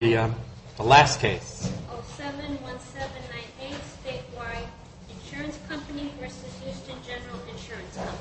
071798 Statewide Insurance Company v. Houston General Insurance Company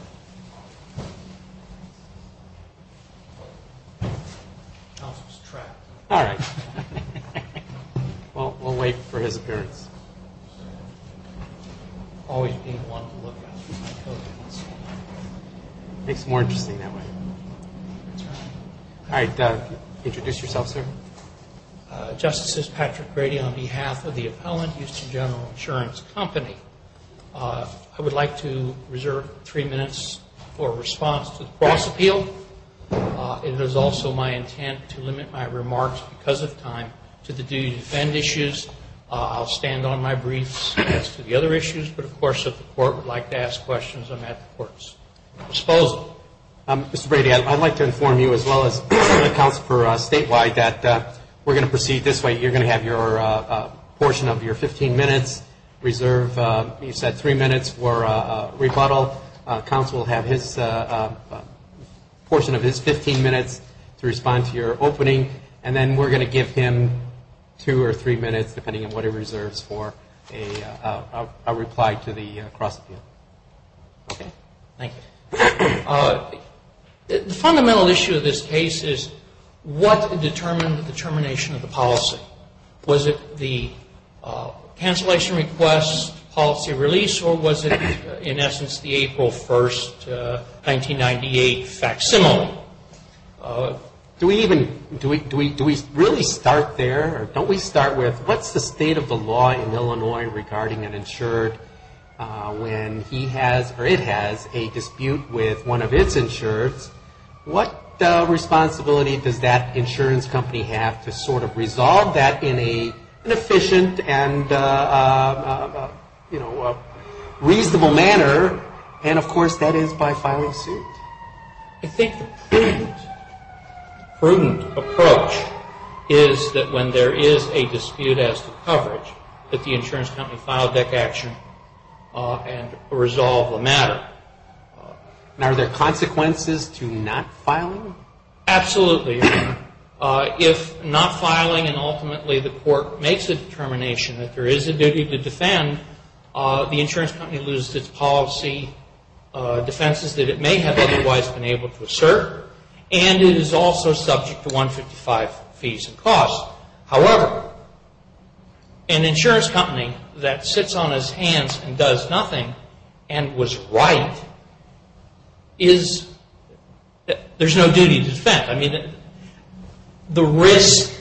Justices, Patrick Brady, on behalf of the Appellant, Houston General Insurance Company, I would like to reserve three minutes for response to the cross appeal. It is also my intent to limit my remarks because of time to the duty to defend issues. I'll stand on my briefs as to the other issues, but of course if the Court would like to ask questions, I'm at the Court's disposal. Mr. Brady, I'd like to inform you as well as the Counsel for Statewide that we're going to proceed this way. You're going to have your portion of your 15 minutes reserved. You said three minutes for rebuttal. The Counsel will have his portion of his 15 minutes to respond to your opening, and then we're going to give him two or three minutes, depending on what he reserves, for a reply to the cross appeal. Okay. Thank you. The fundamental issue of this case is what determined the termination of the policy? Was it the cancellation request, policy release, or was it, in essence, the April 1st, 1998 facsimile? Do we really start there, or don't we start with what's the state of the law in Illinois regarding an insured when he has, or it has, a dispute with one of its insureds? What responsibility does that insurance company have to sort of resolve that in an efficient and reasonable manner? And, of course, that is by filing suit. I think the prudent approach is that when there is a dispute as to coverage, that the insurance company filed that action and resolved the matter. And are there consequences to not filing? Absolutely. If not filing, and ultimately the court makes a determination that there is a duty to defend, the insurance company loses its policy defenses that it may have otherwise been able to assert, and it is also subject to 155 fees and costs. However, an insurance company that sits on its hands and does nothing and was right, there is no duty to defend. The risk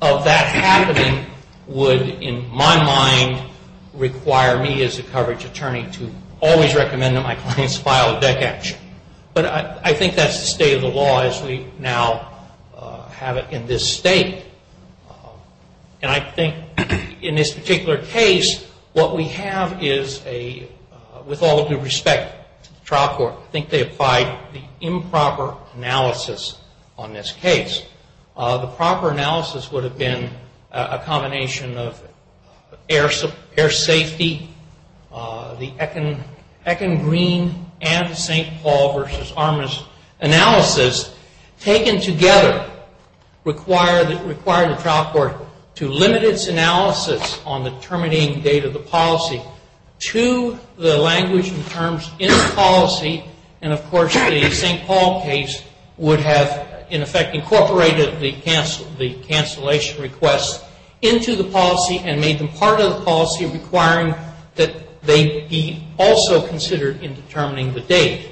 of that happening would, in my mind, require me as a coverage attorney to always recommend that my clients file that action. But I think that is the state of the law as we now have it in this state. And I think in this particular case, what we have is a, with all due respect to the trial court, I think they applied the improper analysis on this case. The proper analysis would have been a combination of air safety, the Eken Green and St. Paul v. Armour's analysis taken together required the trial court to limit its analysis on the terminating date of the policy to the language and terms in the policy. And, of course, the St. Paul case would have, in effect, incorporated the cancellation request into the policy and made them part of the policy requiring that they be also considered in determining the date.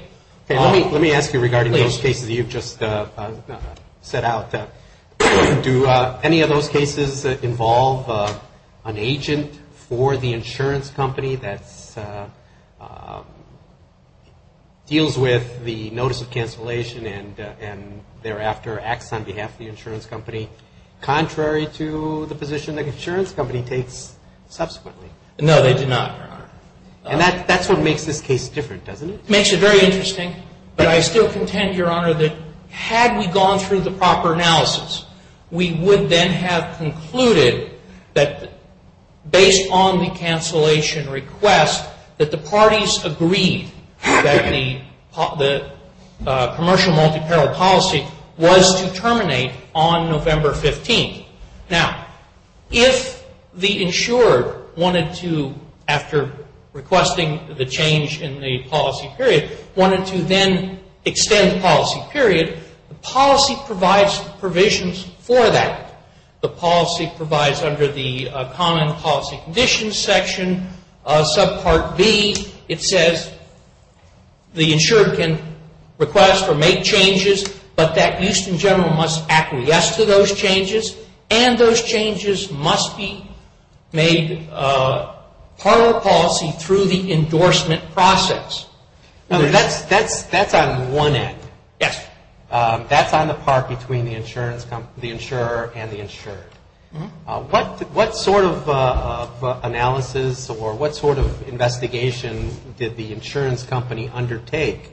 Let me ask you regarding those cases you just set out. Do any of those cases involve an agent for the insurance company that deals with the notice of cancellation and thereafter acts on behalf of the insurance company contrary to the position that the insurance company takes subsequently? No, they do not, Your Honor. And that's what makes this case different, doesn't it? It makes it very interesting, but I still contend, Your Honor, that had we gone through the proper analysis, we would then have concluded that based on the cancellation request that the parties agreed that the commercial multi-parole policy was to terminate on November 15th. Now, if the insurer wanted to, after requesting the change in the policy period, to terminate the policy period, wanted to then extend the policy period, the policy provides provisions for that. The policy provides under the Common Policy Conditions section, subpart B, it says the insurer can request or make changes, but that Houston General must acquiesce to those changes and those changes must be made part of the policy through the endorsement process. That's on one end. Yes. That's on the part between the insurer and the insured. What sort of analysis or what sort of investigation did the insurance company undertake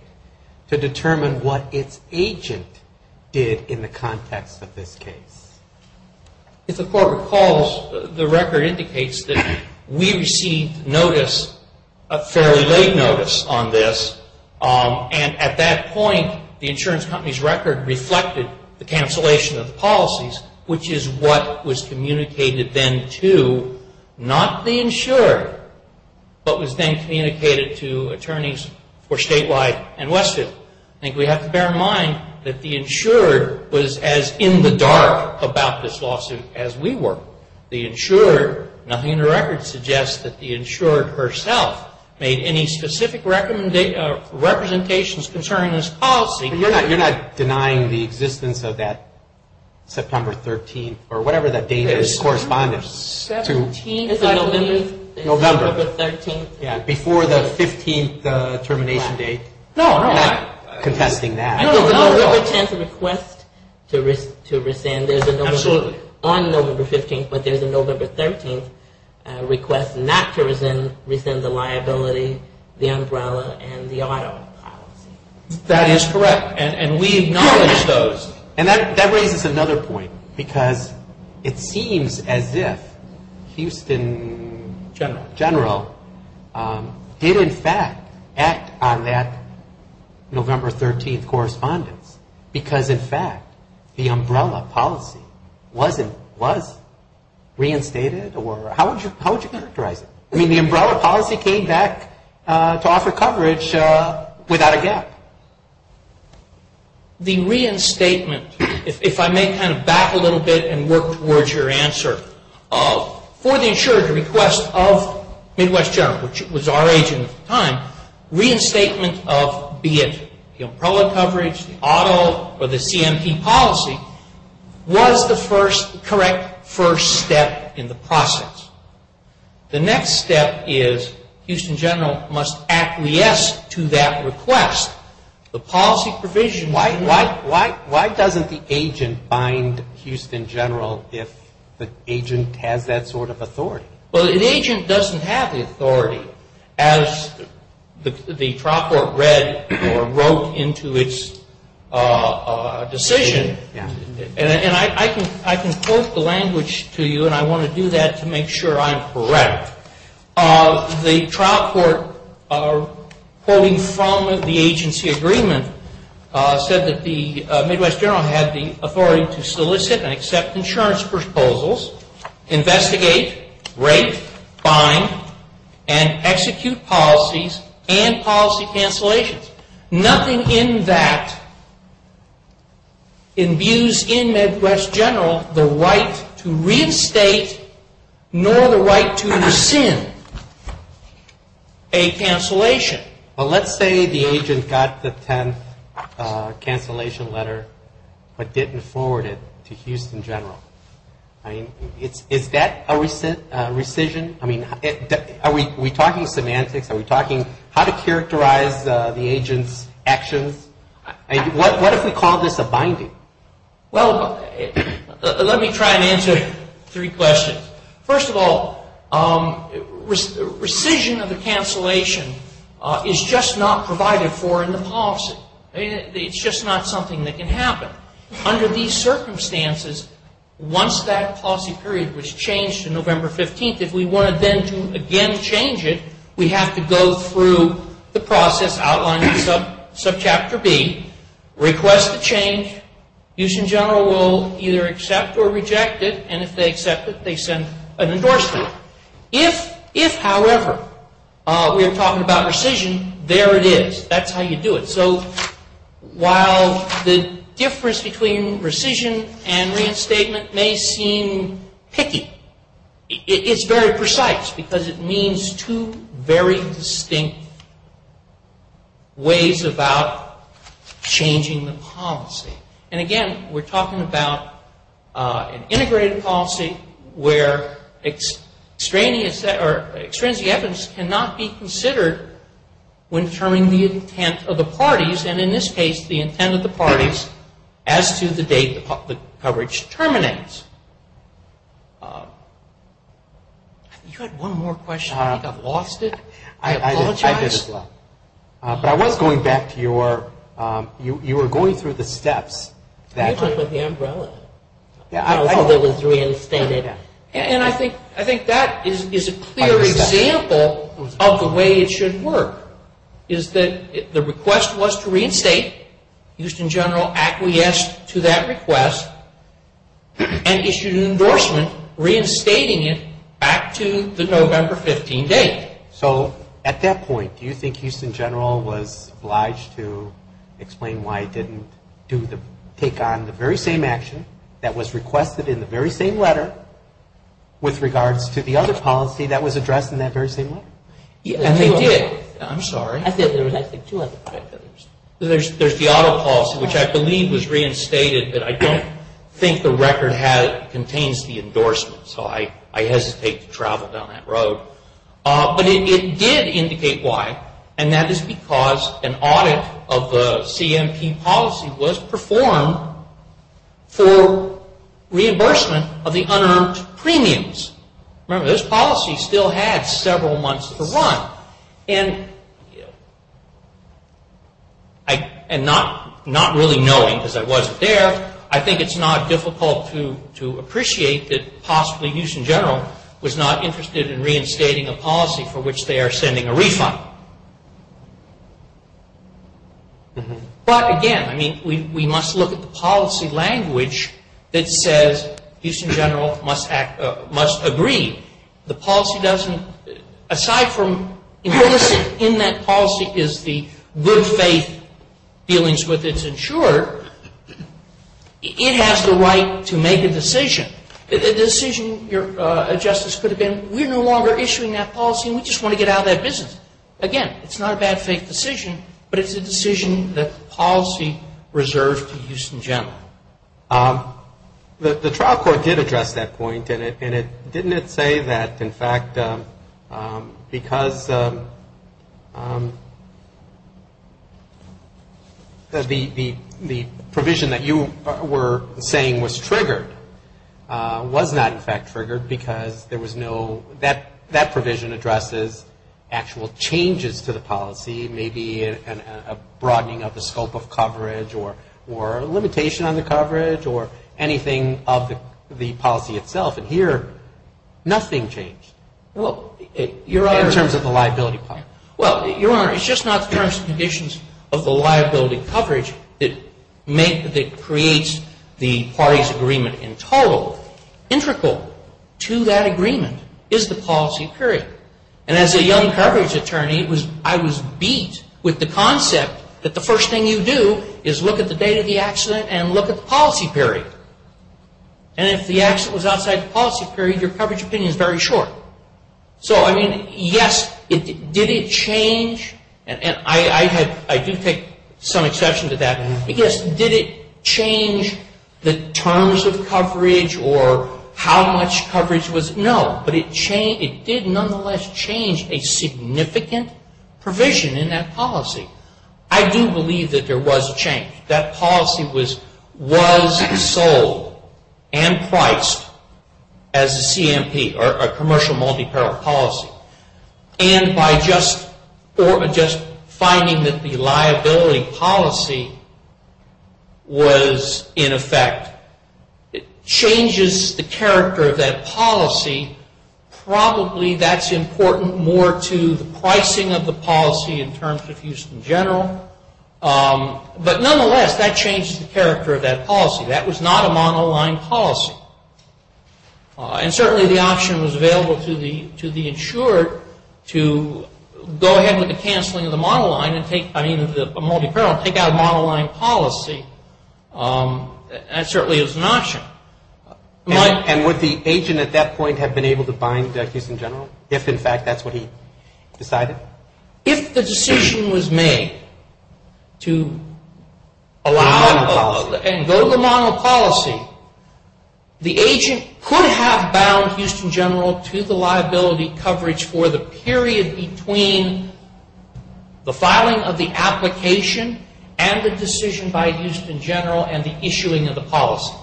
to determine what its agent did in the context of this case? If the Court recalls, the record indicates that we received notice, a fairly late notice on this, and at that point the insurance company's record reflected the cancellation of the policies, which is what was communicated then to, not the insurer, but was then communicated to attorneys for Statewide and Westfield. I think we have to bear in mind that the insurer was as in the dark about this lawsuit as we were. The insurer, nothing in the record suggests that the insurer herself made any specific representations concerning this policy. But you're not denying the existence of that September 13th or whatever that date is correspondence to? It's a November 13th. Before the 15th termination date, not contesting that. There's a November 10th request to rescind, on November 15th, but there's a November 13th request not to rescind the liability, the umbrella, and the auto policy. That is correct, and we acknowledge those. And that raises another point, because it seems as if Houston General did in fact act on that November 13th correspondence, because in fact the umbrella policy was reinstated or how would you characterize it? I mean, the umbrella policy came back to offer coverage without a gap. The reinstatement, if I may kind of back a little bit and work towards your answer, for the insurer to request of Midwest General, which was our agent at the time, reinstatement of be it the umbrella coverage, the auto, or the CMP policy, was the first correct first step in the process. The next step is Houston General must acquiesce to that request. The policy provision Why doesn't the agent bind Houston General if the agent has that sort of authority? Well, an agent doesn't have the authority. As the trial court read or wrote into its decision, and I can quote the language to you, and I want to do that to make sure I'm correct. The trial court, quoting from the agency agreement, said that the Midwest General had the authority to solicit and accept insurance proposals, investigate, rate, bind, and execute policies and policy cancellations. Nothing in that imbues in Midwest General the right to reinstate nor the right to rescind a cancellation. Well, let's say the agent got the 10th cancellation letter but didn't forward it to Houston General. I mean, is that a rescission? I mean, are we talking semantics? Are we talking how to characterize the agent's actions? I mean, what if we called this a binding? Let me try and answer three questions. First of all, rescission of the cancellation is just not provided for in the policy. It's just not something that can happen. Under these circumstances, once that policy period was changed to November 15th, if we wanted then to again change it, we have to go through the process outlined in subchapter B, request the change. Houston General will either accept or reject it, and if they accept it, they send an endorsement. If, however, we are talking about rescission, there it is. That's how you do it. So while the difference between rescission and reinstatement may seem picky, it's very precise because it means two very distinct ways about changing the policy. And again, we're talking about an integrated policy where extraneous or extrinsic evidence cannot be considered when determining the intent of the parties, and in this case, the intent of the parties as to the date the coverage terminates. You had one more question. I think I've lost it. I apologize. I did as well. But I was going back to your, you were going through the steps that You took with the umbrella, how it was reinstated. And I think that is a clear example of the way it should work. Is that the request was to reinstate. Houston General acquiesced to that request and issued an endorsement reinstating it back to the November 15 date. So at that point, do you think Houston General was obliged to explain why it didn't take on the very same action that was requested in the very same letter with regards to the other policy that was addressed in that very same letter? And they did. I'm sorry. I said there was I think two other policies. There's the other policy, which I believe was reinstated, but I don't think the record has, contains the endorsement. So I hesitate to travel down that road. But it did indicate why, and that is because an audit of the CMP policy was performed for one. And not really knowing because I wasn't there, I think it's not difficult to appreciate that possibly Houston General was not interested in reinstating a policy for which they are sending a refund. But again, I mean, we must look at the policy language that says Houston General must agree. The policy doesn't, aside from implicit in that policy is the good faith dealings with its insurer, it has the right to make a decision. A decision, your Justice, could have been we're no longer issuing that policy and we just want to get out of that business. Again, it's not a bad faith decision, but it's a decision that policy reserved to Houston General. The trial court did address that point, and didn't it say that in fact because the provision that you were saying was triggered was not in fact triggered because there was no, that provision addresses actual changes to the policy, maybe a broadening of the scope of the coverage or anything of the policy itself. And here nothing changed in terms of the liability part. Well, Your Honor, it's just not the terms and conditions of the liability coverage that creates the party's agreement in total. Integral to that agreement is the policy period. And as a young coverage attorney, I was beat with the concept that the first thing you do is look at the date of the accident and look at the policy period. And if the accident was outside the policy period, your coverage opinion is very short. So, I mean, yes, did it change? And I do take some exception to that. Yes, did it change the terms of coverage or how much coverage was? No, but it did nonetheless change a significant provision in that policy. I do believe that there was a change. That policy was sold and priced as a CMP or a commercial multi-parent policy. And by just finding that the liability policy was in effect, it changes the character of that policy. Probably that's important more to the pricing of the policy in terms of Houston General. But nonetheless, that changed the character of that policy. That was not a monoline policy. And certainly the option was available to the insured to go ahead with the canceling of the monoline and take, I mean, the multi-parent, take out a monoline policy. That certainly is an option. And would the agent at that point have been able to bind Houston General, if in fact that's what he decided? If the decision was made to allow and go to the monoline policy, the agent could have bound Houston General to the liability coverage for the period between the filing of the application and the decision by Houston General and the issuing of the policy.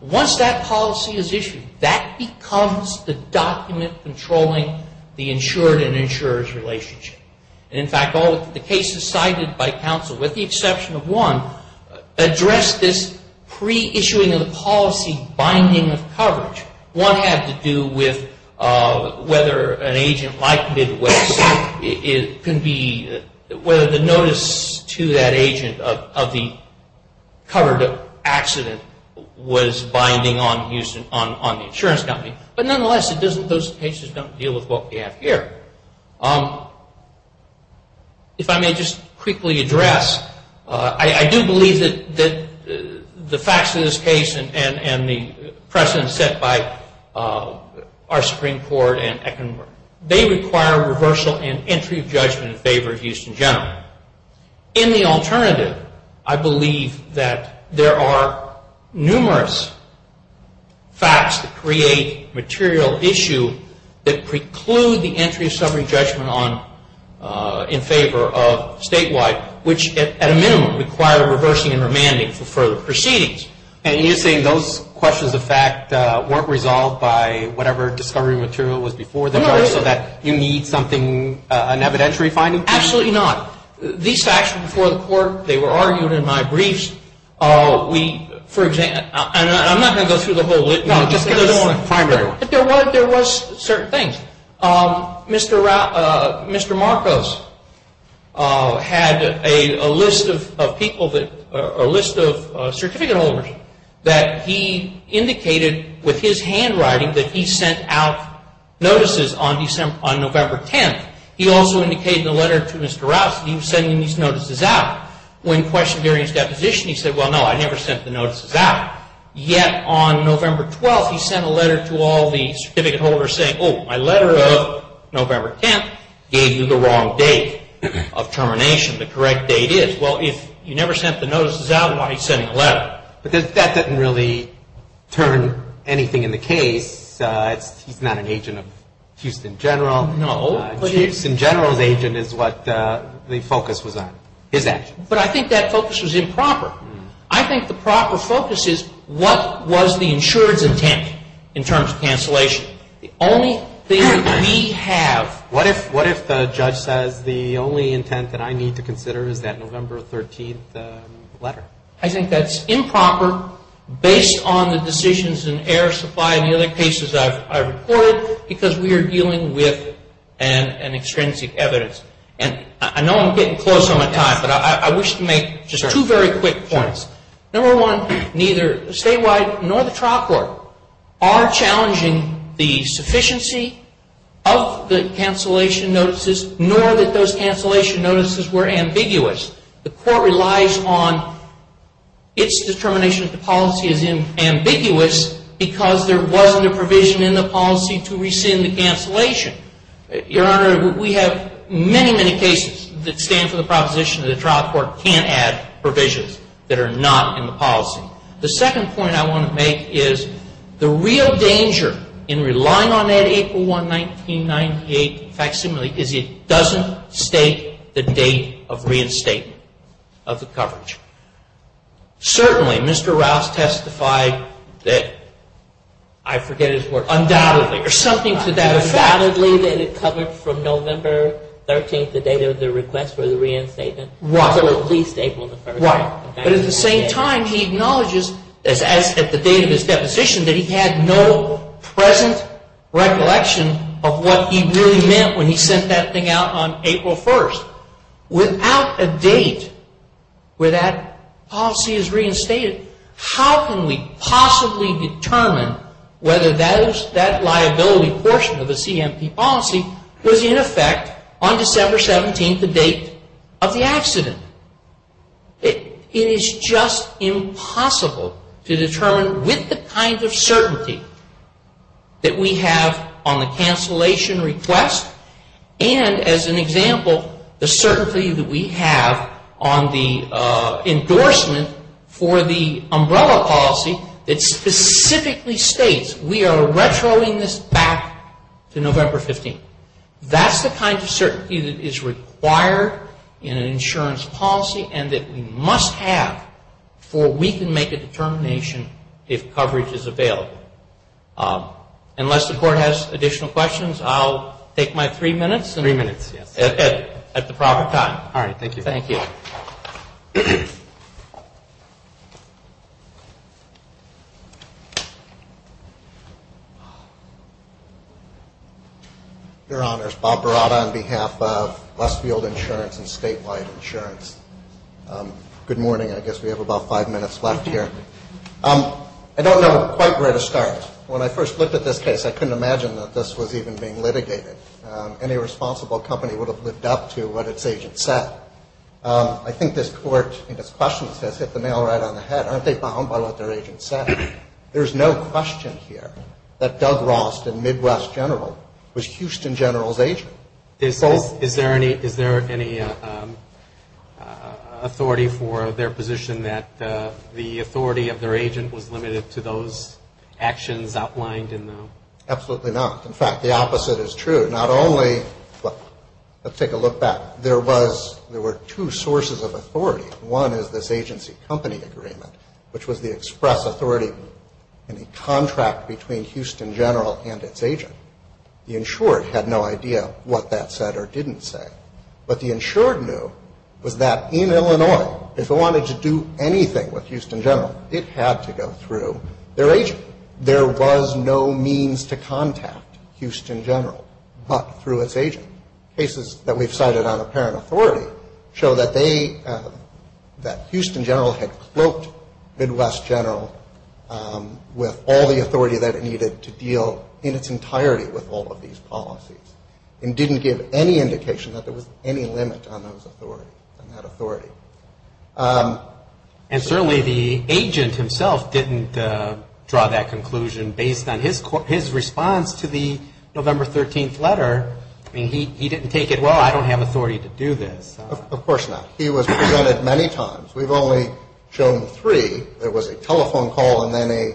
Once that policy is issued, and in fact all of the cases cited by counsel, with the exception of one, address this pre-issuing of the policy binding of coverage. One had to do with whether an agent like Midwest could be, whether the notice to that agent of the covered accident was binding on the insurance company. But nonetheless, those cases don't deal with what we have here. If I may just quickly address, I do believe that the facts of this case and the precedents set by our Supreme Court and Ekman, they require reversal and entry of judgment in favor of Houston General. In the alternative, I believe that there are numerous facts that create material issue that preclude the entry of summary judgment on, in favor of statewide, which at a minimum require reversing and remanding for further proceedings. And you're saying those questions of fact weren't resolved by whatever discovery material was before the court so that you need something, an evidentiary finding? Absolutely not. These facts were before the court. They were argued in my briefs. We, for example, and I'm not going to go through the whole list, but there was certain things. Mr. Marcos had a list of people that, a list of certificate holders that he indicated with his handwriting that he sent out notices on November 10th. He also indicated in the letter to Mr. Rouse that he was sending these notices out. When questioned during his deposition, he said, well, no, I never sent the notices out. Yet on November 12th, he sent a letter to all the certificate holders saying, oh, my letter of November 10th gave you the wrong date of termination. The correct date is. Well, if you never sent the notices out, why are you sending a letter? But that doesn't really turn anything in the case. He's not an agent of Houston General. No. Houston General's agent is what the focus was on, his action. But I think that focus was improper. I think the proper focus is what was the insurer's intent in terms of cancellation. The only thing we have. What if the judge says the only intent that I need to consider is that November 13th letter? I think that's improper based on the decisions in air supply and the other cases I've reported because we are dealing with an extrinsic evidence. And I know I'm getting close on my time, but I wish to make just two very quick points. Number one, neither statewide nor the trial court are challenging the sufficiency of the cancellation notices, nor that those cancellation notices were ambiguous. The court relies on its determination that the policy is ambiguous because there wasn't a provision in the policy to rescind the cancellation. Your Honor, we have many, many cases that stand for the proposition that the trial court can't add provisions that are not in the policy. The second point I want to make is the real danger in relying on that April 1, 1998 facsimile is it doesn't state the date of reinstatement of the coverage. Certainly, Mr. Rouse testified that, I forget his words, undoubtedly or something to that effect. Undoubtedly that it covered from November 13th, the date of the request for the reinstatement to at least April 1st. Right. But at the same time, he acknowledges, as at the date of his deposition, that he had no present recollection of what he really meant when he sent that thing out on April 1st. Without a date where that policy is reinstated, how can we possibly determine whether that liability portion of the CMP policy was in effect on December 17th, the date of the accident? It is just impossible to determine with the kind of certainty that we have on the cancellation request and, as an example, the certainty that we have on the endorsement for the umbrella policy that specifically states we are retroing this back to November 15th. That's the kind of certainty that is required in an insurance policy and that we must have before we can make a determination if coverage is available. Unless the Court has additional questions, I'll take my three minutes at the proper time. All right. Thank you. Thank you. Your Honors, Bob Berrada on behalf of Westfield Insurance and Statewide Insurance. Good morning. I guess we have about five minutes left here. I don't know quite where to start with this case. When I first looked at this case, I couldn't imagine that this was even being litigated. Any responsible company would have lived up to what its agents said. I think this Court, in its questions, has hit the nail right on the head. Aren't they bound by what their agents said? There is no question here that Doug Ross, the Midwest General, was Houston General's agent. Is there any authority for their position that the authority of their agent was limited to those actions outlined in the? Absolutely not. In fact, the opposite is true. Not only, let's take a look back. There were two sources of authority. One is this agency company agreement, which was the express authority in a contract between Houston General and its agent. The insured had no idea what that said or didn't say. What the insured knew was that in Illinois, if it wanted to do anything with Houston General, it had to go through their agent. There was no means to contact Houston General but through its agent. Cases that we've cited on apparent authority show that they, that Houston General had cloaked Midwest General with all the authority that it needed to deal in its entirety with all of these policies and didn't give any indication that there was any limit on those authorities, on that authority. And certainly the agent himself didn't draw that conclusion based on his response to the November 13th letter. I mean, he didn't take it, well, I don't have authority to do this. Of course not. He was presented many times. We've only shown three. There was a telephone call and then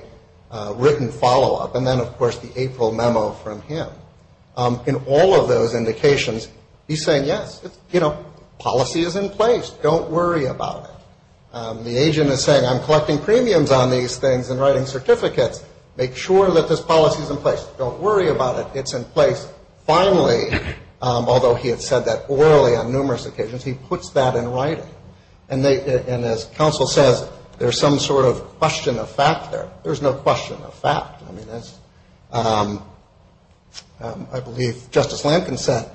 a written follow-up and then, of course, the April memo from him. In all of those indications, he's saying, yes, you know, policy is in place. Don't worry about it. The agent is saying, I'm collecting premiums on these things and writing certificates. Make sure that this policy is in place. Don't worry about it. It's in place. Finally, although he had said that orally on numerous occasions, he puts that in writing. And they, and as counsel says, there's some sort of question of fact there. There's no question of fact. I mean, that's, I believe Justice Lankin said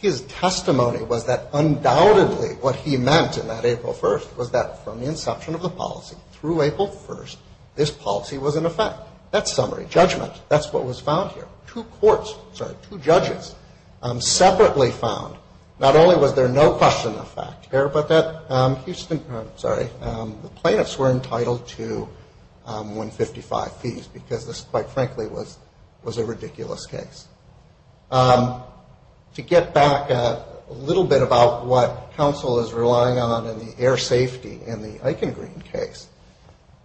his testimony was that undoubtedly what he meant in that April 1st was that from the inception of the policy through April 1st, this policy was in effect. That's summary judgment. That's what was found here. Two courts, sorry, two judges separately found not only was there no question of fact there, but that Houston, I'm sorry, the plaintiffs were entitled to 155 fees because this, quite frankly, was a ridiculous case. To get back a little bit about what counsel is relying on in the air safety in the Eichen Green case,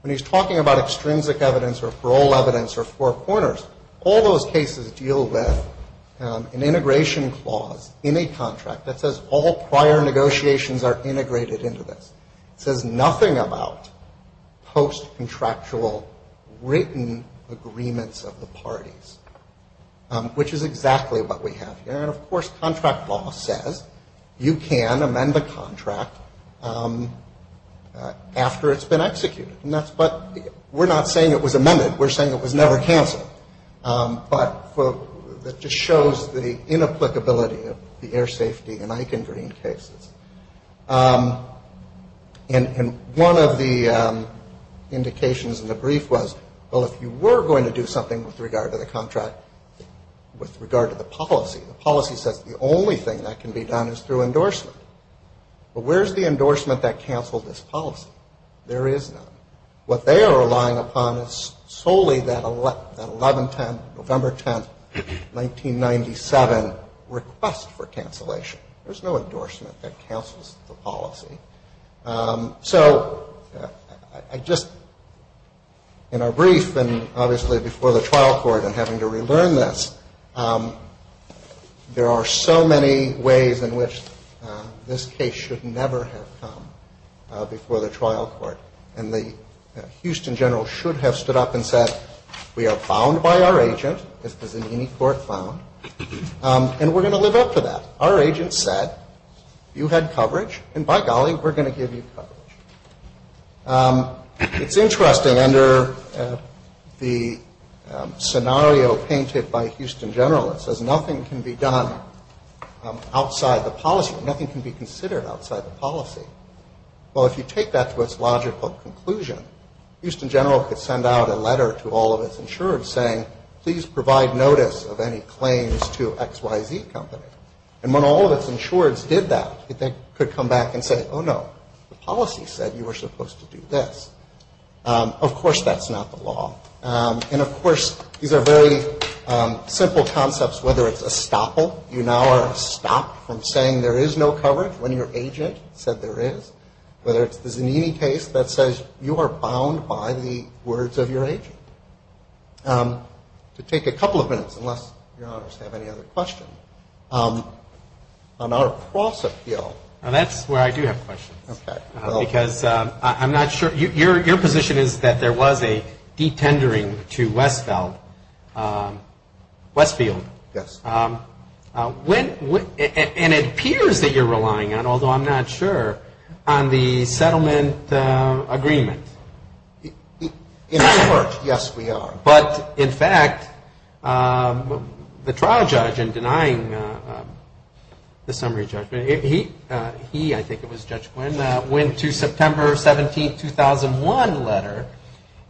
when he's talking about extrinsic evidence or parole evidence or four corners, all those cases deal with an integration clause in a contract that says all prior negotiations are integrated into this. It says nothing about post-contractual written agreements of the parties, which is exactly what we have here. And, of course, contract law says you can amend the contract after it's been executed. And that's, but we're not saying it was amended. We're saying it was never canceled. But that just shows the inapplicability of the air safety in the contract. And one of the indications in the brief was, well, if you were going to do something with regard to the contract, with regard to the policy, the policy says the only thing that can be done is through endorsement. But where is the endorsement that canceled this policy? There is none. What they are relying upon is solely that 11-10, November 10, 1997 request for cancellation. There's no endorsement that cancels the policy. So I just, in our brief, and obviously before the trial court and having to relearn this, there are so many ways in which this case should never have come before the trial court. And the Houston General should have stood up and said, we are bound by our agent, as the Zanini court found, and we're going to live up to that. Our agent said, you had coverage, and by golly, we're going to give you coverage. It's interesting, under the scenario painted by Houston General, it says nothing can be done outside the policy. Nothing can be considered outside the policy. Well, if you take that to its logical conclusion, Houston General could send out a letter to all of its insureds saying, please provide notice of any claims to XYZ Company. And when all of its insureds did that, they could come back and say, oh, no, the policy said you were supposed to do this. Of course, that's not the law. And of course, these are very simple concepts, whether it's a stopple, you now are stopped from saying there is no coverage when your agent said there is, whether it's the Zanini case that says you are bound by the words of your agent. To take a couple of minutes, unless Your Honors have any other questions, on our cross-appeal. Now, that's where I do have questions. Okay. Because I'm not sure. Your position is that there was a detendering to Westfield. Yes. And it appears that you're relying on, although I'm not sure, on the settlement agreement. In our court, yes, we are. But in fact, the trial judge in denying the summary judgment, he, I think it was Judge Quinn, went to September 17, 2001 letter.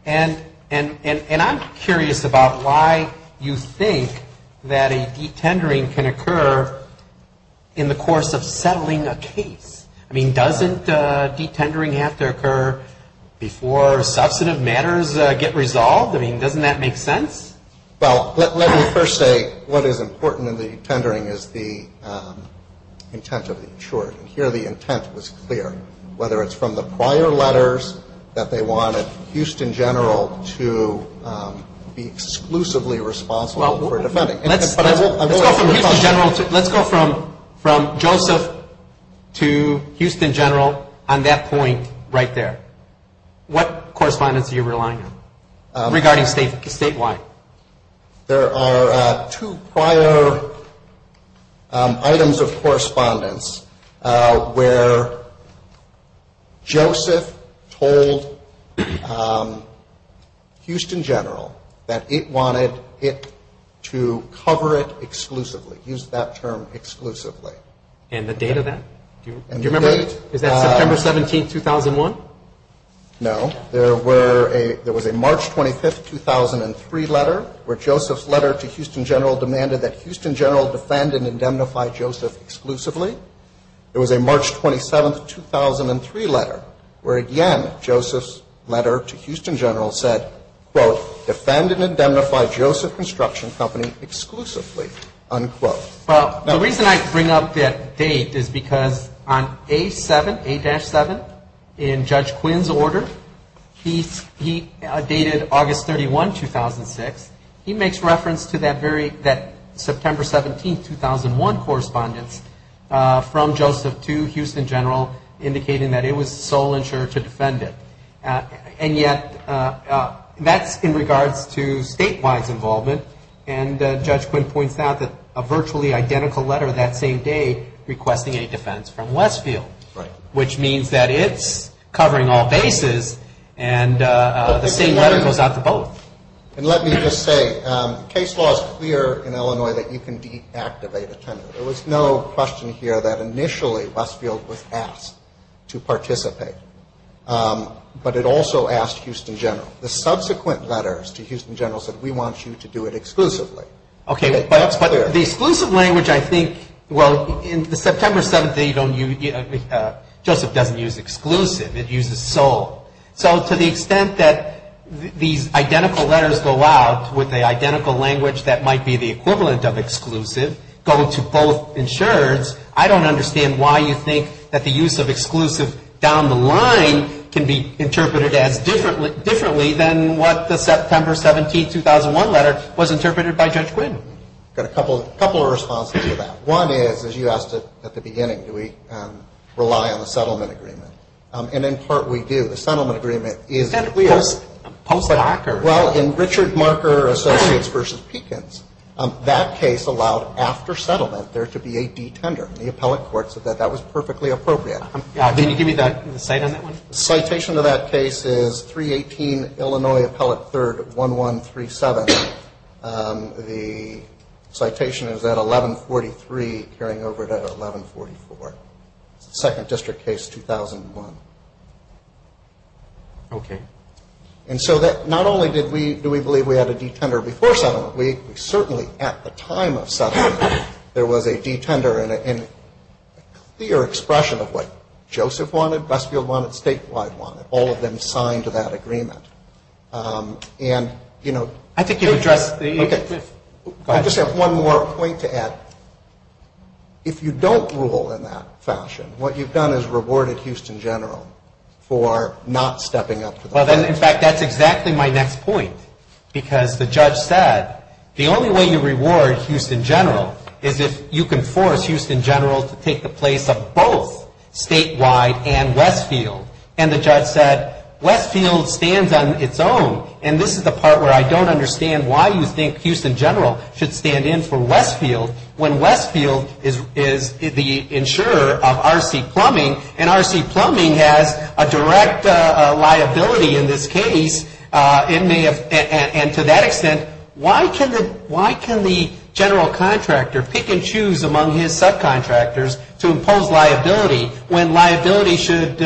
And I'm curious about why you think that a detendering can occur in the course of settling a case. I mean, doesn't detendering have to occur before substantive matters get resolved? I mean, doesn't that make sense? Well, let me first say what is important in the detendering is the intent of the insurer. Here the intent was clear. Whether it's from the prior letters that they wanted Houston General to be exclusively responsible for defending. Let's go from Houston General to, let's go from Joseph to Houston General on that point right there. What correspondence are you relying on regarding statewide? There are two prior items of correspondence where Joseph told Houston General that it was his intent to cover it exclusively, use that term exclusively. And the date of that? Do you remember? Is that September 17, 2001? No. There were a, there was a March 25, 2003 letter where Joseph's letter to Houston General demanded that Houston General defend and indemnify Joseph exclusively. There was a March 27, 2003 letter where, again, Joseph's letter to Houston General said, quote, defend and indemnify Joseph Construction Company exclusively, unquote. Well, the reason I bring up that date is because on A7, A-7, in Judge Quinn's order, he dated August 31, 2006. He makes reference to that very, that September 17, 2001 correspondence from Joseph to Houston General indicating that it was the sole insurer to defend it. And yet, that's in regards to statewide involvement, and Judge Quinn points out that a virtually identical letter that same day requesting a defense from Westfield, which means that it's covering all bases, and the same letter goes out to both. And let me just say, case law is clear in Illinois that you can deactivate a tenant. There was no question here that initially Westfield was asked to participate, but it also asked Houston General. The subsequent letters to Houston General said, we want you to do it exclusively. Okay, but the exclusive language, I think, well, in the September 17, you don't use, Joseph doesn't use exclusive. It uses sole. So to the extent that these identical letters go out with an identical language that might be the equivalent of exclusive, go to both insurers, I don't understand why you think that the use of exclusive down the line can be interpreted as differently than what the September 17, 2001 letter was interpreted by Judge Quinn. I've got a couple of responses to that. One is, as you asked at the beginning, do we rely on the settlement agreement? And in part, we do. The settlement agreement is post-Docker. Well, in Richard Marker Associates v. Pekins, that case allowed after settlement there to be a detender in the appellate court, so that was perfectly appropriate. Can you give me the cite on that one? The citation of that case is 318 Illinois Appellate 3rd, 1137. The citation is at 1143, carrying over to 1144. It's the second district case, 2001. Okay. And so not only do we believe we had a detender before settlement, we certainly at the time of settlement, there was a detender and a clear expression of what Joseph wanted, Westfield wanted, Statewide wanted. All of them signed to that agreement. And, you know I think you've addressed the Okay. I just have one more point to add. If you don't rule in that fashion, what you've done is rewarded Houston General for not stepping up to the plate. Well, then in fact, that's exactly my next point. Because the judge said, the only way you reward Houston General is if you can force Houston General to take the place of both Statewide and Westfield. And the judge said, Westfield stands on its own. And this is the part where I don't understand why you think Houston General should stand in for Westfield when Westfield is the insurer of R.C. Plumbing, and R.C. Plumbing has a direct liability in this case. And to that extent, why can the general contractor pick and choose among his subcontractors to impose liability when liability should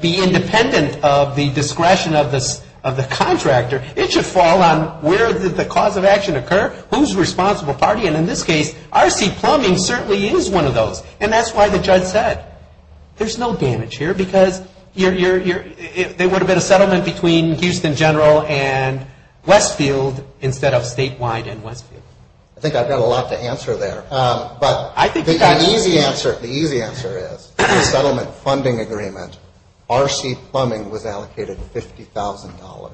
be independent of the discretion of the contractor? It should fall on where did the cause of action occur, who's responsible party? And in this case, R.C. Plumbing certainly is one of those. And that's why the judge said, there's no damage here, because there would have been a settlement between Houston General and Westfield instead of Statewide and Westfield. I think I've got a lot to answer there. I think you've got an easy answer. The easy answer is, in the settlement funding agreement, R.C. Plumbing was allocated $50,000.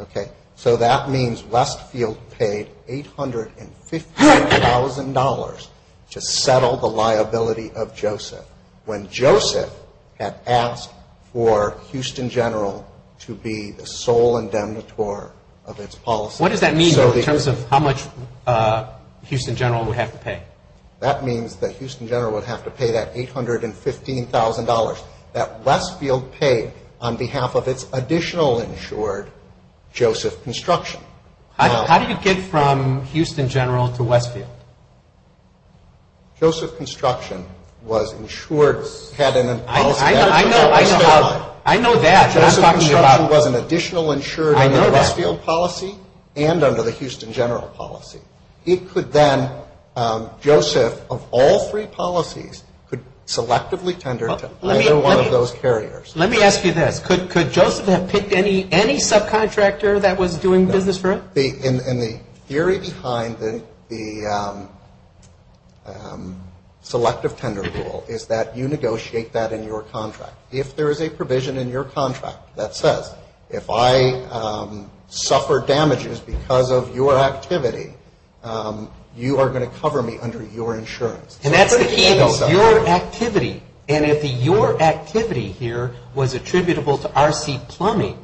Okay? So that means Westfield paid $815,000 to settle the liability of Joseph when Joseph had asked for Houston General to be the sole indemnitore of its policy. What does that mean in terms of how much Houston General would have to pay? That means that Houston General would have to pay that $815,000 that Westfield paid on behalf of its additional insured, Joseph Construction. How did you get from Houston General to Westfield? Joseph Construction was insured, had a policy that was under Statewide. I know that. Joseph Construction was an additional insured under Westfield policy and under the Houston General policy. It could then, Joseph, of all three policies, could selectively tender to either one of those carriers. Let me ask you this. Could Joseph have picked any subcontractor that was doing business for it? And the theory behind the selective tender rule is that you negotiate that in your contract. If there is a provision in your contract that says, if I suffer damages because of your activity, you are going to cover me under your insurance. And that's the key. And if your activity here was attributable to R.C. Plumbing,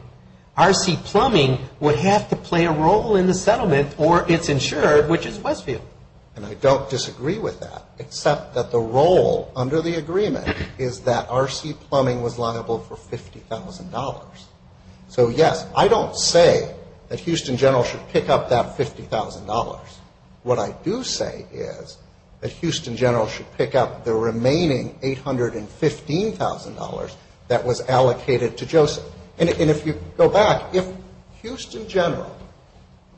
R.C. Plumbing would have to play a role in the settlement or its insured, which is Westfield. And I don't disagree with that except that the role under the agreement is that R.C. Plumbing was liable for $50,000. So, yes, I don't say that Houston General should pick up that $50,000. What I do say is that Houston General should pick up the remaining $815,000 that was allocated to Joseph. And if you go back, if Houston General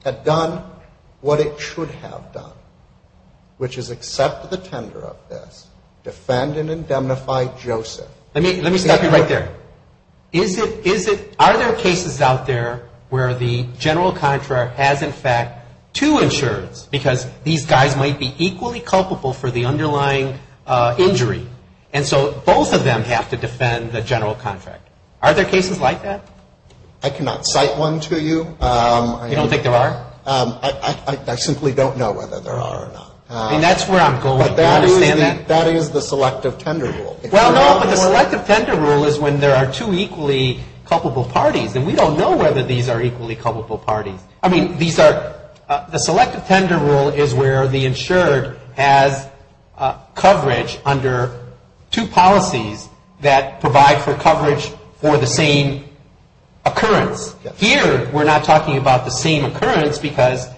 had done what it should have done, which is accept the tender of this, defend and indemnify Joseph. Let me stop you right there. Are there cases out there where the general contract has, in fact, two insureds, because these guys might be equally culpable for the underlying injury? And so both of them have to defend the general contract. Are there cases like that? I cannot cite one to you. You don't think there are? I simply don't know whether there are or not. And that's where I'm going. Do you understand that? That is the selective tender rule. Well, no, but the selective tender rule is when there are two equally culpable parties. And we don't know whether these are equally culpable parties. I mean, these are, the selective tender rule is where the insured has coverage under two policies that provide for coverage for the same occurrence. Here, we're not talking about the same occurrence because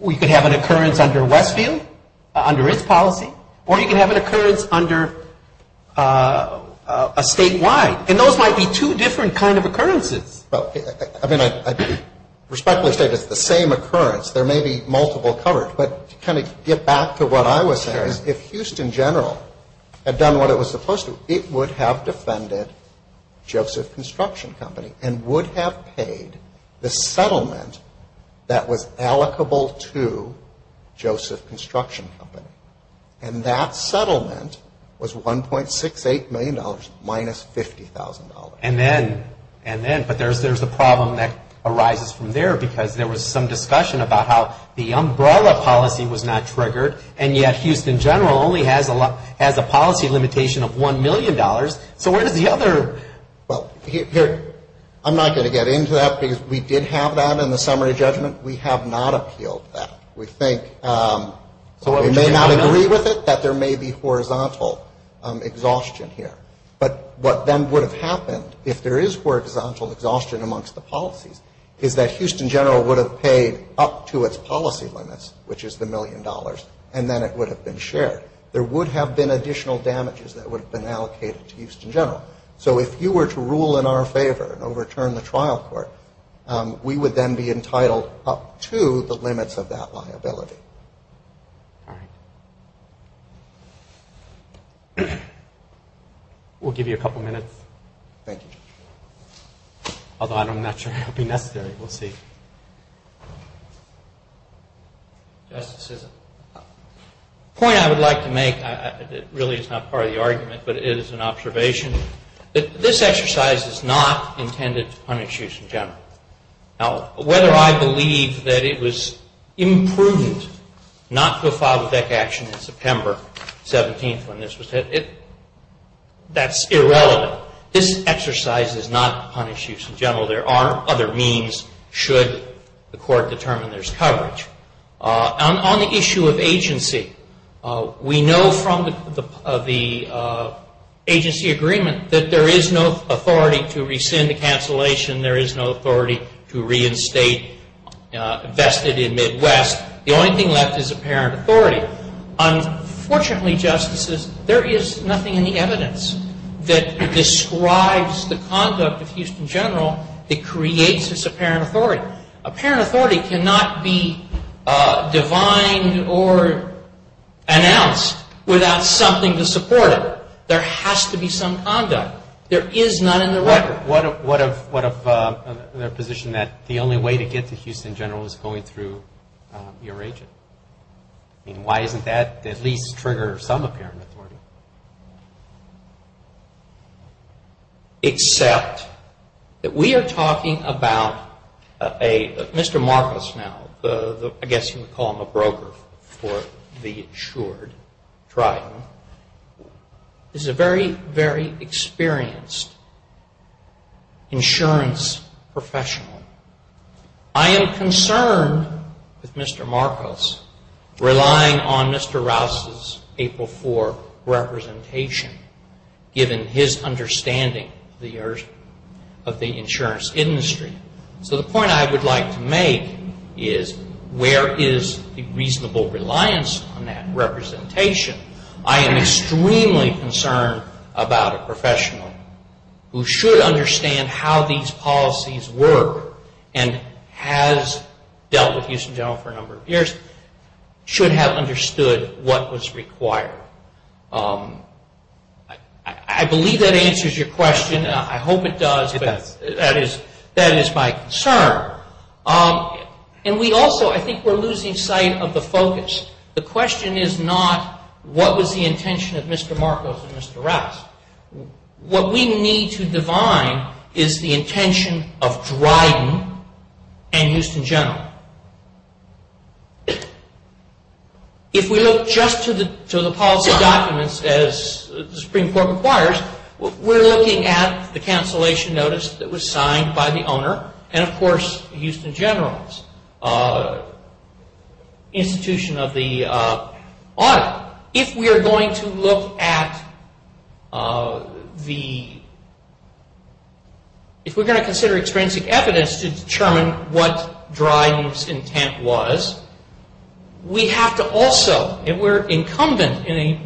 we could have an occurrence under Westfield, under its policy, or you could have an occurrence under a statewide. And those might be two different kind of occurrences. Well, I mean, I respectfully state it's the same occurrence. There may be multiple coverage. But to kind of get back to what I was saying is if Houston General had done what it was supposed to, it would have defended Joseph Construction Company and would have paid the settlement that was allocable to Joseph Construction Company. And that settlement was $1.68 million minus $50,000. And then, but there's a problem that arises from there because there was some discussion about how the umbrella policy was not triggered, and yet Houston General only has a policy limitation of $1 million. So where does the other, well, here, I'm not going to get into that because we did have that in the summary judgment. We have not appealed that. We think, we may not agree with it, that there may be horizontal exhaustion here. But what then would have happened if there is horizontal exhaustion amongst the policies is that Houston General would have paid up to its policy limits, which is the million dollars, and then it would have been shared. There would have been additional damages that would have been allocated to Houston General. So if you were to rule in our favor and overturn the trial court, we would then be entitled up to the limits of that liability. All right. We'll give you a couple minutes. Thank you, Judge. Although I'm not sure it would be necessary. We'll see. Justice Sisson. The point I would like to make, it really is not part of the argument, but it is an observation. This exercise is not intended to punish Houston General. Now, whether I believe that it was imprudent not to file the Beck action in September 17th when this was hit, that's irrelevant. This exercise is not to punish Houston General. There are other means should the court determine there's coverage. On the issue of agency, we know from the agency agreement that there is no authority to rescind the cancellation. There is no authority to reinstate vested in Midwest. The only thing left is apparent authority. Unfortunately, Justices, there is nothing in the evidence that describes the conduct of Houston General that creates this apparent authority. Apparent authority cannot be defined or announced without something to support it. There has to be some conduct. There is none in the record. What of their position that the only way to get to Houston General is going through your agent? I mean, why doesn't that at least trigger some apparent authority? Except that we are talking about a Mr. Marcos now. I guess you would call him a broker for the insured Triton. He's a very, very experienced insurance professional. I am concerned with Mr. Marcos relying on Mr. Rouse's April 4 representation, given his understanding of the insurance industry. So the point I would like to make is where is the reasonable reliance on that representation? I am extremely concerned about a professional who should understand how these policies work and has dealt with Houston General for a number of years, should have understood what was required. I believe that answers your question. I hope it does, but that is my concern. And we also, I think we're losing sight of the focus. The question is not what was the intention of Mr. Marcos and Mr. Rouse. What we need to divine is the intention of Dryden and Houston General. If we look just to the policy documents as the Supreme Court requires, we're looking at the cancellation notice that was signed by the owner and, of course, Houston General's institution of the audit. If we're going to consider extrinsic evidence to determine what Dryden's intent was, we have to also, and we're incumbent in a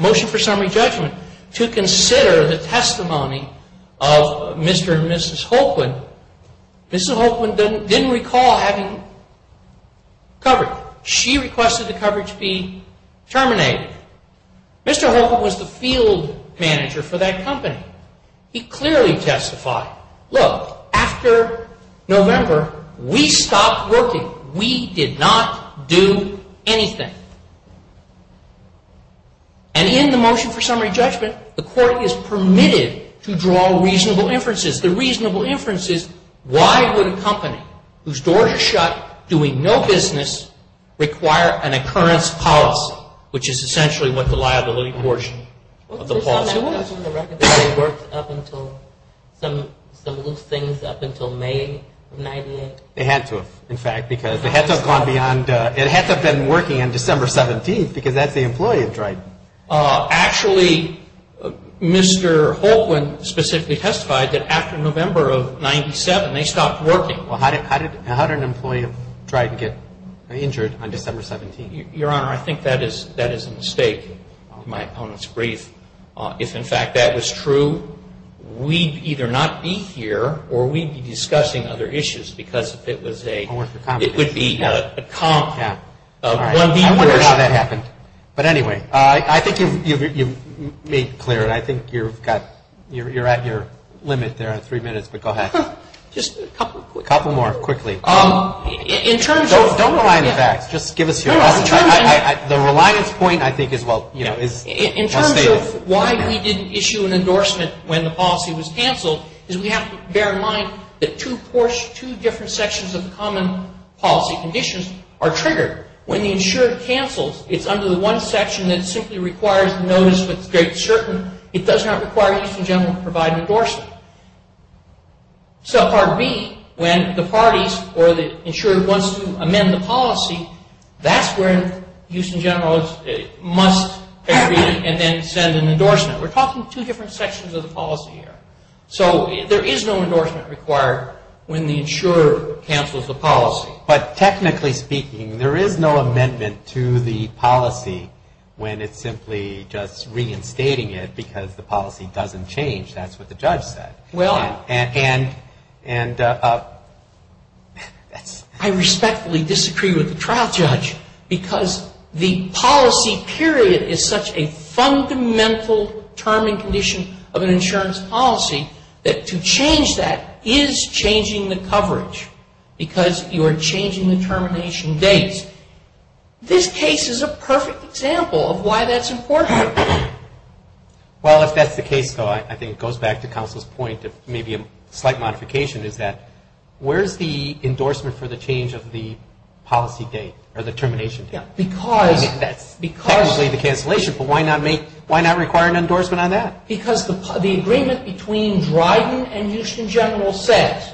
motion for summary judgment, to consider the testimony of Mr. and Mrs. Holquin. Mrs. Holquin didn't recall having coverage. She requested the coverage be terminated. Mr. Holquin was the field manager for that company. He clearly testified, look, after November, we stopped working. We did not do anything. And in the motion for summary judgment, the court is permitted to draw reasonable inferences. The reasonable inference is why would a company whose doors are shut, doing no business, require an occurrence policy, which is essentially what the liability portion of the policy was. Was this on the record that they worked up until some loose things up until May of 1998? They had to have, in fact, because they had to have gone beyond the ‑‑ it had to have been working on December 17th because that's the employee at Dryden. Actually, Mr. Holquin specifically testified that after November of 97, they stopped working. Well, how did an employee of Dryden get injured on December 17th? Your Honor, I think that is a mistake in my opponent's brief. If, in fact, that was true, we'd either not be here or we'd be discussing other issues because if it was a ‑‑ I wonder how that happened. But anyway, I think you've made clear it. I think you've got ‑‑ you're at your limit there on three minutes, but go ahead. Just a couple more. A couple more, quickly. In terms of ‑‑ Don't rely on the facts. Just give us your answer. The reliance point, I think, is well stated. In terms of why we didn't issue an endorsement when the policy was canceled is we have to bear in mind that two different sections of the common policy conditions are triggered. When the insurer cancels, it's under the one section that simply requires the notice with great certain. It does not require the Houston General to provide an endorsement. So part B, when the parties or the insurer wants to amend the policy, that's where Houston General must agree and then send an endorsement. We're talking two different sections of the policy here. So there is no endorsement required when the insurer cancels the policy. But technically speaking, there is no amendment to the policy when it's simply just reinstating it because the policy doesn't change. That's what the judge said. Well, I respectfully disagree with the trial judge because the policy period is such a fundamental term and condition of an insurance policy that to change that is changing the coverage because you are changing the termination dates. This case is a perfect example of why that's important. Well, if that's the case, though, I think it goes back to counsel's point, maybe a slight modification is that where's the endorsement for the change of the policy date or the termination date? Yeah, because... Technically the cancellation, but why not require an endorsement on that? Because the agreement between Dryden and Houston General says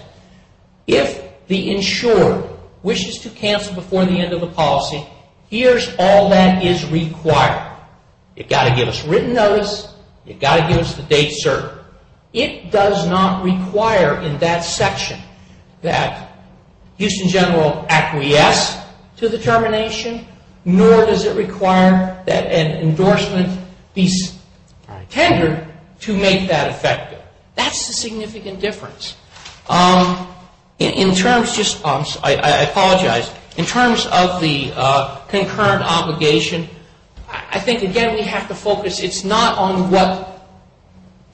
if the insurer wishes to cancel before the end of the policy, here's all that is required. You've got to give us written notice. You've got to give us the date served. It does not require in that section that Houston General acquiesce to the termination, nor does it require that an endorsement be tendered to make that effective. That's the significant difference. In terms of the concurrent obligation, I think, again, we have to focus. It's not on what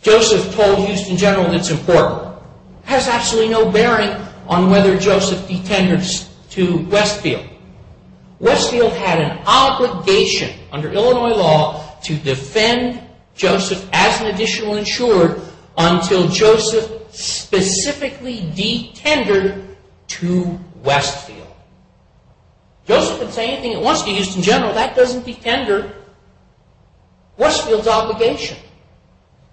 Joseph told Houston General that's important. It has absolutely no bearing on whether Joseph detenders to Westfield. Westfield had an obligation under Illinois law to defend Joseph as an additional insurer until Joseph specifically detendered to Westfield. Joseph can say anything he wants to Houston General. That doesn't detender Westfield's obligation.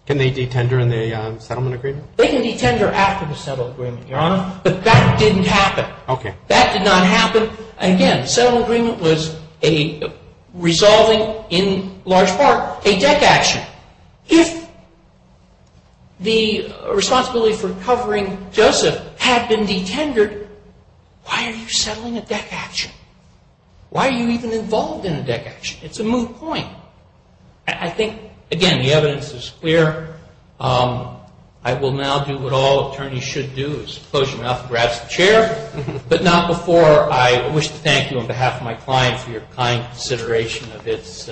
Can they detender in the settlement agreement? They can detender after the settlement agreement, Your Honor, but that didn't happen. Okay. That did not happen. Again, the settlement agreement was resolving in large part a deck action. If the responsibility for covering Joseph had been detendered, why are you settling a deck action? Why are you even involved in a deck action? It's a moot point. I think, again, the evidence is clear. I will now do what all attorneys should do is close your mouth and grasp the chair, but not before I wish to thank you on behalf of my client for your kind consideration of his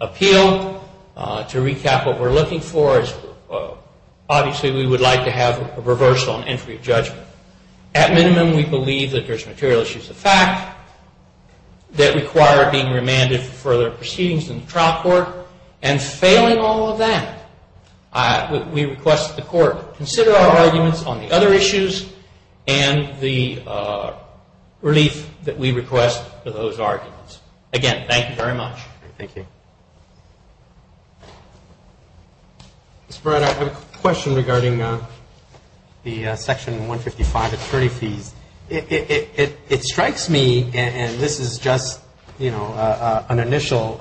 appeal. To recap, what we're looking for is obviously we would like to have a reversal and entry of judgment. At minimum, we believe that there's material issues of fact that require being remanded for further proceedings in the trial court, and failing all of that, we request the court consider our arguments on the other issues and the relief that we request for those arguments. Again, thank you very much. Thank you. Mr. Barrett, I have a question regarding the Section 155 attorney fees. It strikes me, and this is just, you know, an initial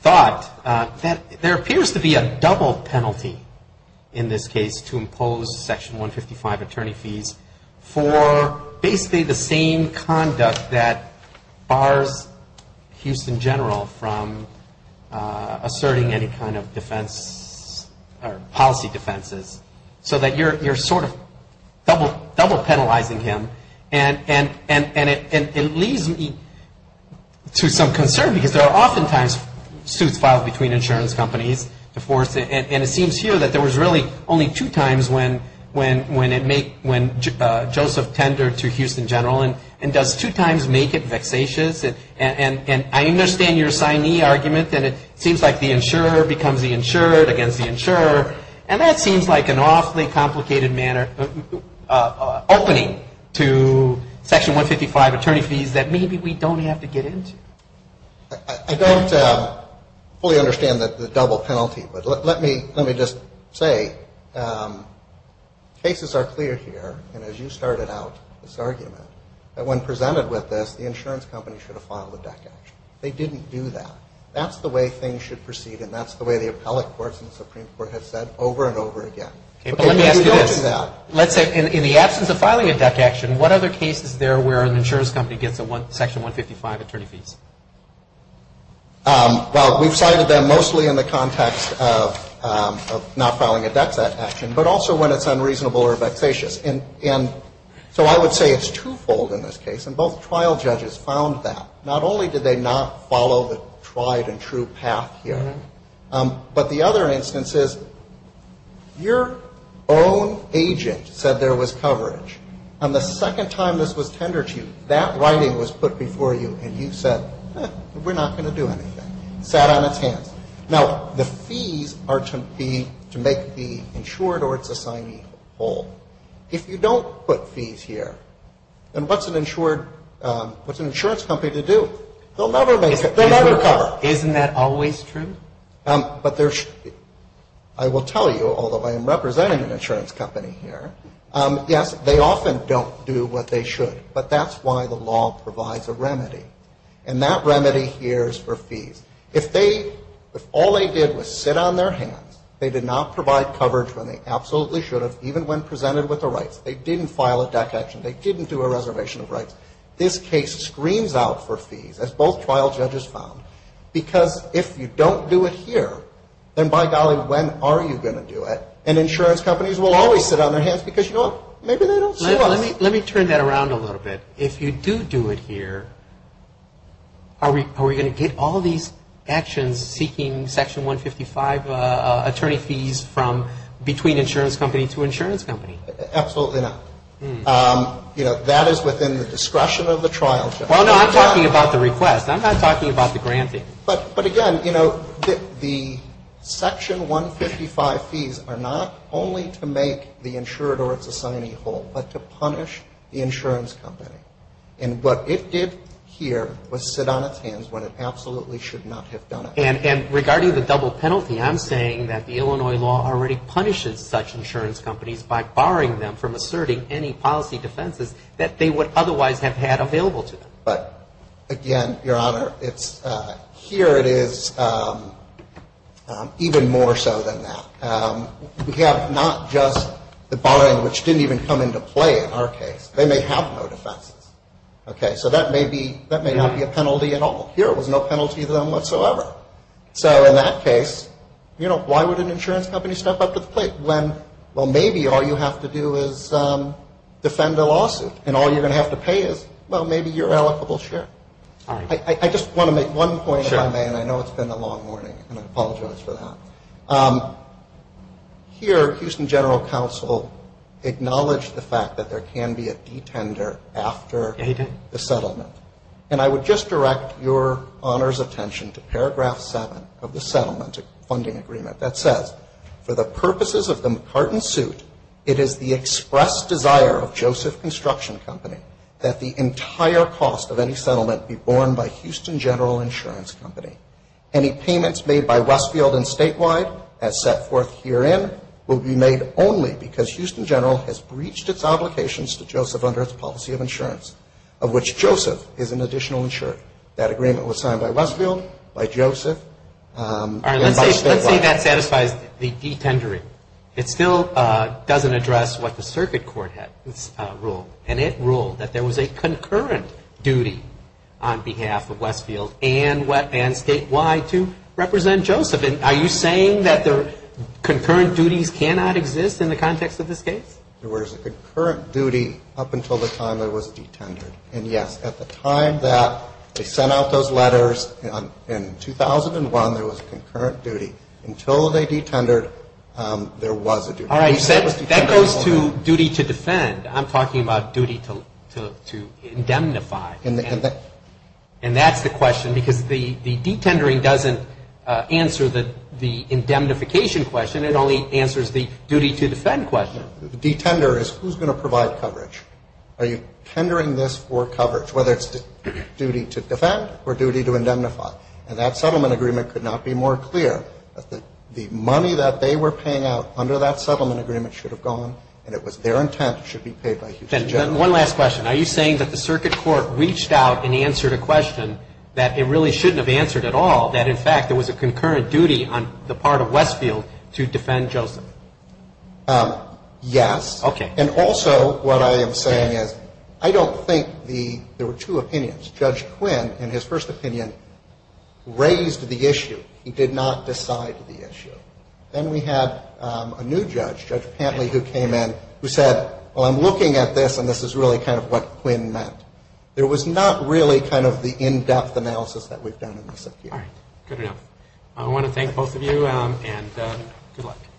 thought, that there appears to be a double penalty in this case to impose Section 155 attorney fees for basically the same conduct that bars Houston General from asserting any kind of defense or policy defenses, so that you're sort of double penalizing him, and it leaves me to some concern, because there are oftentimes suits filed between insurance companies to force it, and it seems here that there was really only two times when Joseph tendered to Houston General, and does two times make it vexatious? And I understand your signee argument, and it seems like the insurer becomes the insured against the insurer, and that seems like an awfully complicated manner, opening to Section 155 attorney fees, that maybe we don't have to get into. I don't fully understand the double penalty, but let me just say, cases are clear here, and as you started out this argument, that when presented with this, the insurance company should have filed a deck action. They didn't do that. That's the way things should proceed, and that's the way the appellate courts and the Supreme Court have said over and over again. Okay, but let me ask you this. Let's say in the absence of filing a deck action, what other cases there where an insurance company gets a Section 155 attorney fees? Well, we've cited them mostly in the context of not filing a deck action, but also when it's unreasonable or vexatious. And so I would say it's twofold in this case, and both trial judges found that. Not only did they not follow the tried and true path here, but the other instance is your own agent said there was coverage, and the second time this was tendered to you, that writing was put before you, and you said, we're not going to do anything. It sat on its hands. Now, the fees are to be to make the insured or its assignee whole. If you don't put fees here, then what's an insured, what's an insurance company to do? They'll never make it. They'll never cover. Isn't that always true? But there should be. I will tell you, although I am representing an insurance company here, yes, they often don't do what they should, but that's why the law provides a remedy, and that remedy here is for fees. If they, if all they did was sit on their hands, they did not provide coverage when they absolutely should have, even when presented with the rights. They didn't file a DAC action. They didn't do a reservation of rights. This case screams out for fees, as both trial judges found, because if you don't do it here, then by golly, when are you going to do it? And insurance companies will always sit on their hands because, you know what, maybe they don't see us. Let me turn that around a little bit. If you do do it here, are we going to get all these actions seeking Section 155 attorney fees from between insurance company to insurance company? Absolutely not. You know, that is within the discretion of the trial judge. Well, no, I'm talking about the request. I'm not talking about the granting. But, again, you know, the Section 155 fees are not only to make the insured or its assignee whole, but to punish the insurance company. And what it did here was sit on its hands when it absolutely should not have done it. And regarding the double penalty, I'm saying that the Illinois law already punishes such insurance companies by barring them from asserting any policy defenses that they would otherwise have had available to them. But, again, Your Honor, here it is even more so than that. We have not just the barring, which didn't even come into play in our case. They may have no defenses. Okay, so that may not be a penalty at all. Here it was no penalty to them whatsoever. So, in that case, you know, why would an insurance company step up to the plate when, well, maybe all you have to do is defend a lawsuit, and all you're going to have to pay is, well, maybe your allocable share. I just want to make one point, if I may, and I know it's been a long morning, and I apologize for that. Here, Houston General Counsel acknowledged the fact that there can be a detender after the settlement. And I would just direct Your Honor's attention to paragraph 7 of the settlement funding agreement that says, for the purposes of the McCartan suit, it is the express desire of Joseph Construction Company that the entire cost of any settlement be borne by Houston General Insurance Company. Any payments made by Westfield and Statewide, as set forth herein, will be made only because Houston General has breached its obligations to Joseph under its policy of insurance, of which Joseph is an additional insurer. That agreement was signed by Westfield, by Joseph, and by Statewide. All right, let's say that satisfies the detendering. It still doesn't address what the circuit court had ruled, and it ruled that there was a concurrent duty on behalf of Westfield and Statewide to represent Joseph. Are you saying that concurrent duties cannot exist in the context of this case? There was a concurrent duty up until the time there was a detender. And, yes, at the time that they sent out those letters in 2001, there was a concurrent duty. Until they detendered, there was a duty. That goes to duty to defend. I'm talking about duty to indemnify. And that's the question because the detendering doesn't answer the indemnification question, it only answers the duty to defend question. The detender is who's going to provide coverage. Are you tendering this for coverage, whether it's duty to defend or duty to indemnify? And that settlement agreement could not be more clear. The money that they were paying out under that settlement agreement should have gone, and it was their intent, it should be paid by Houston General. Then one last question. Are you saying that the circuit court reached out and answered a question that it really shouldn't have answered at all, that, in fact, there was a concurrent duty on the part of Westfield to defend Joseph? Yes. Okay. And also what I am saying is I don't think the – there were two opinions. Judge Quinn, in his first opinion, raised the issue. He did not decide the issue. Then we had a new judge, Judge Pantley, who came in, who said, well, I'm looking at this and this is really kind of what Quinn meant. There was not really kind of the in-depth analysis that we've done in the circuit. All right. Good to know. I want to thank both of you, and good luck.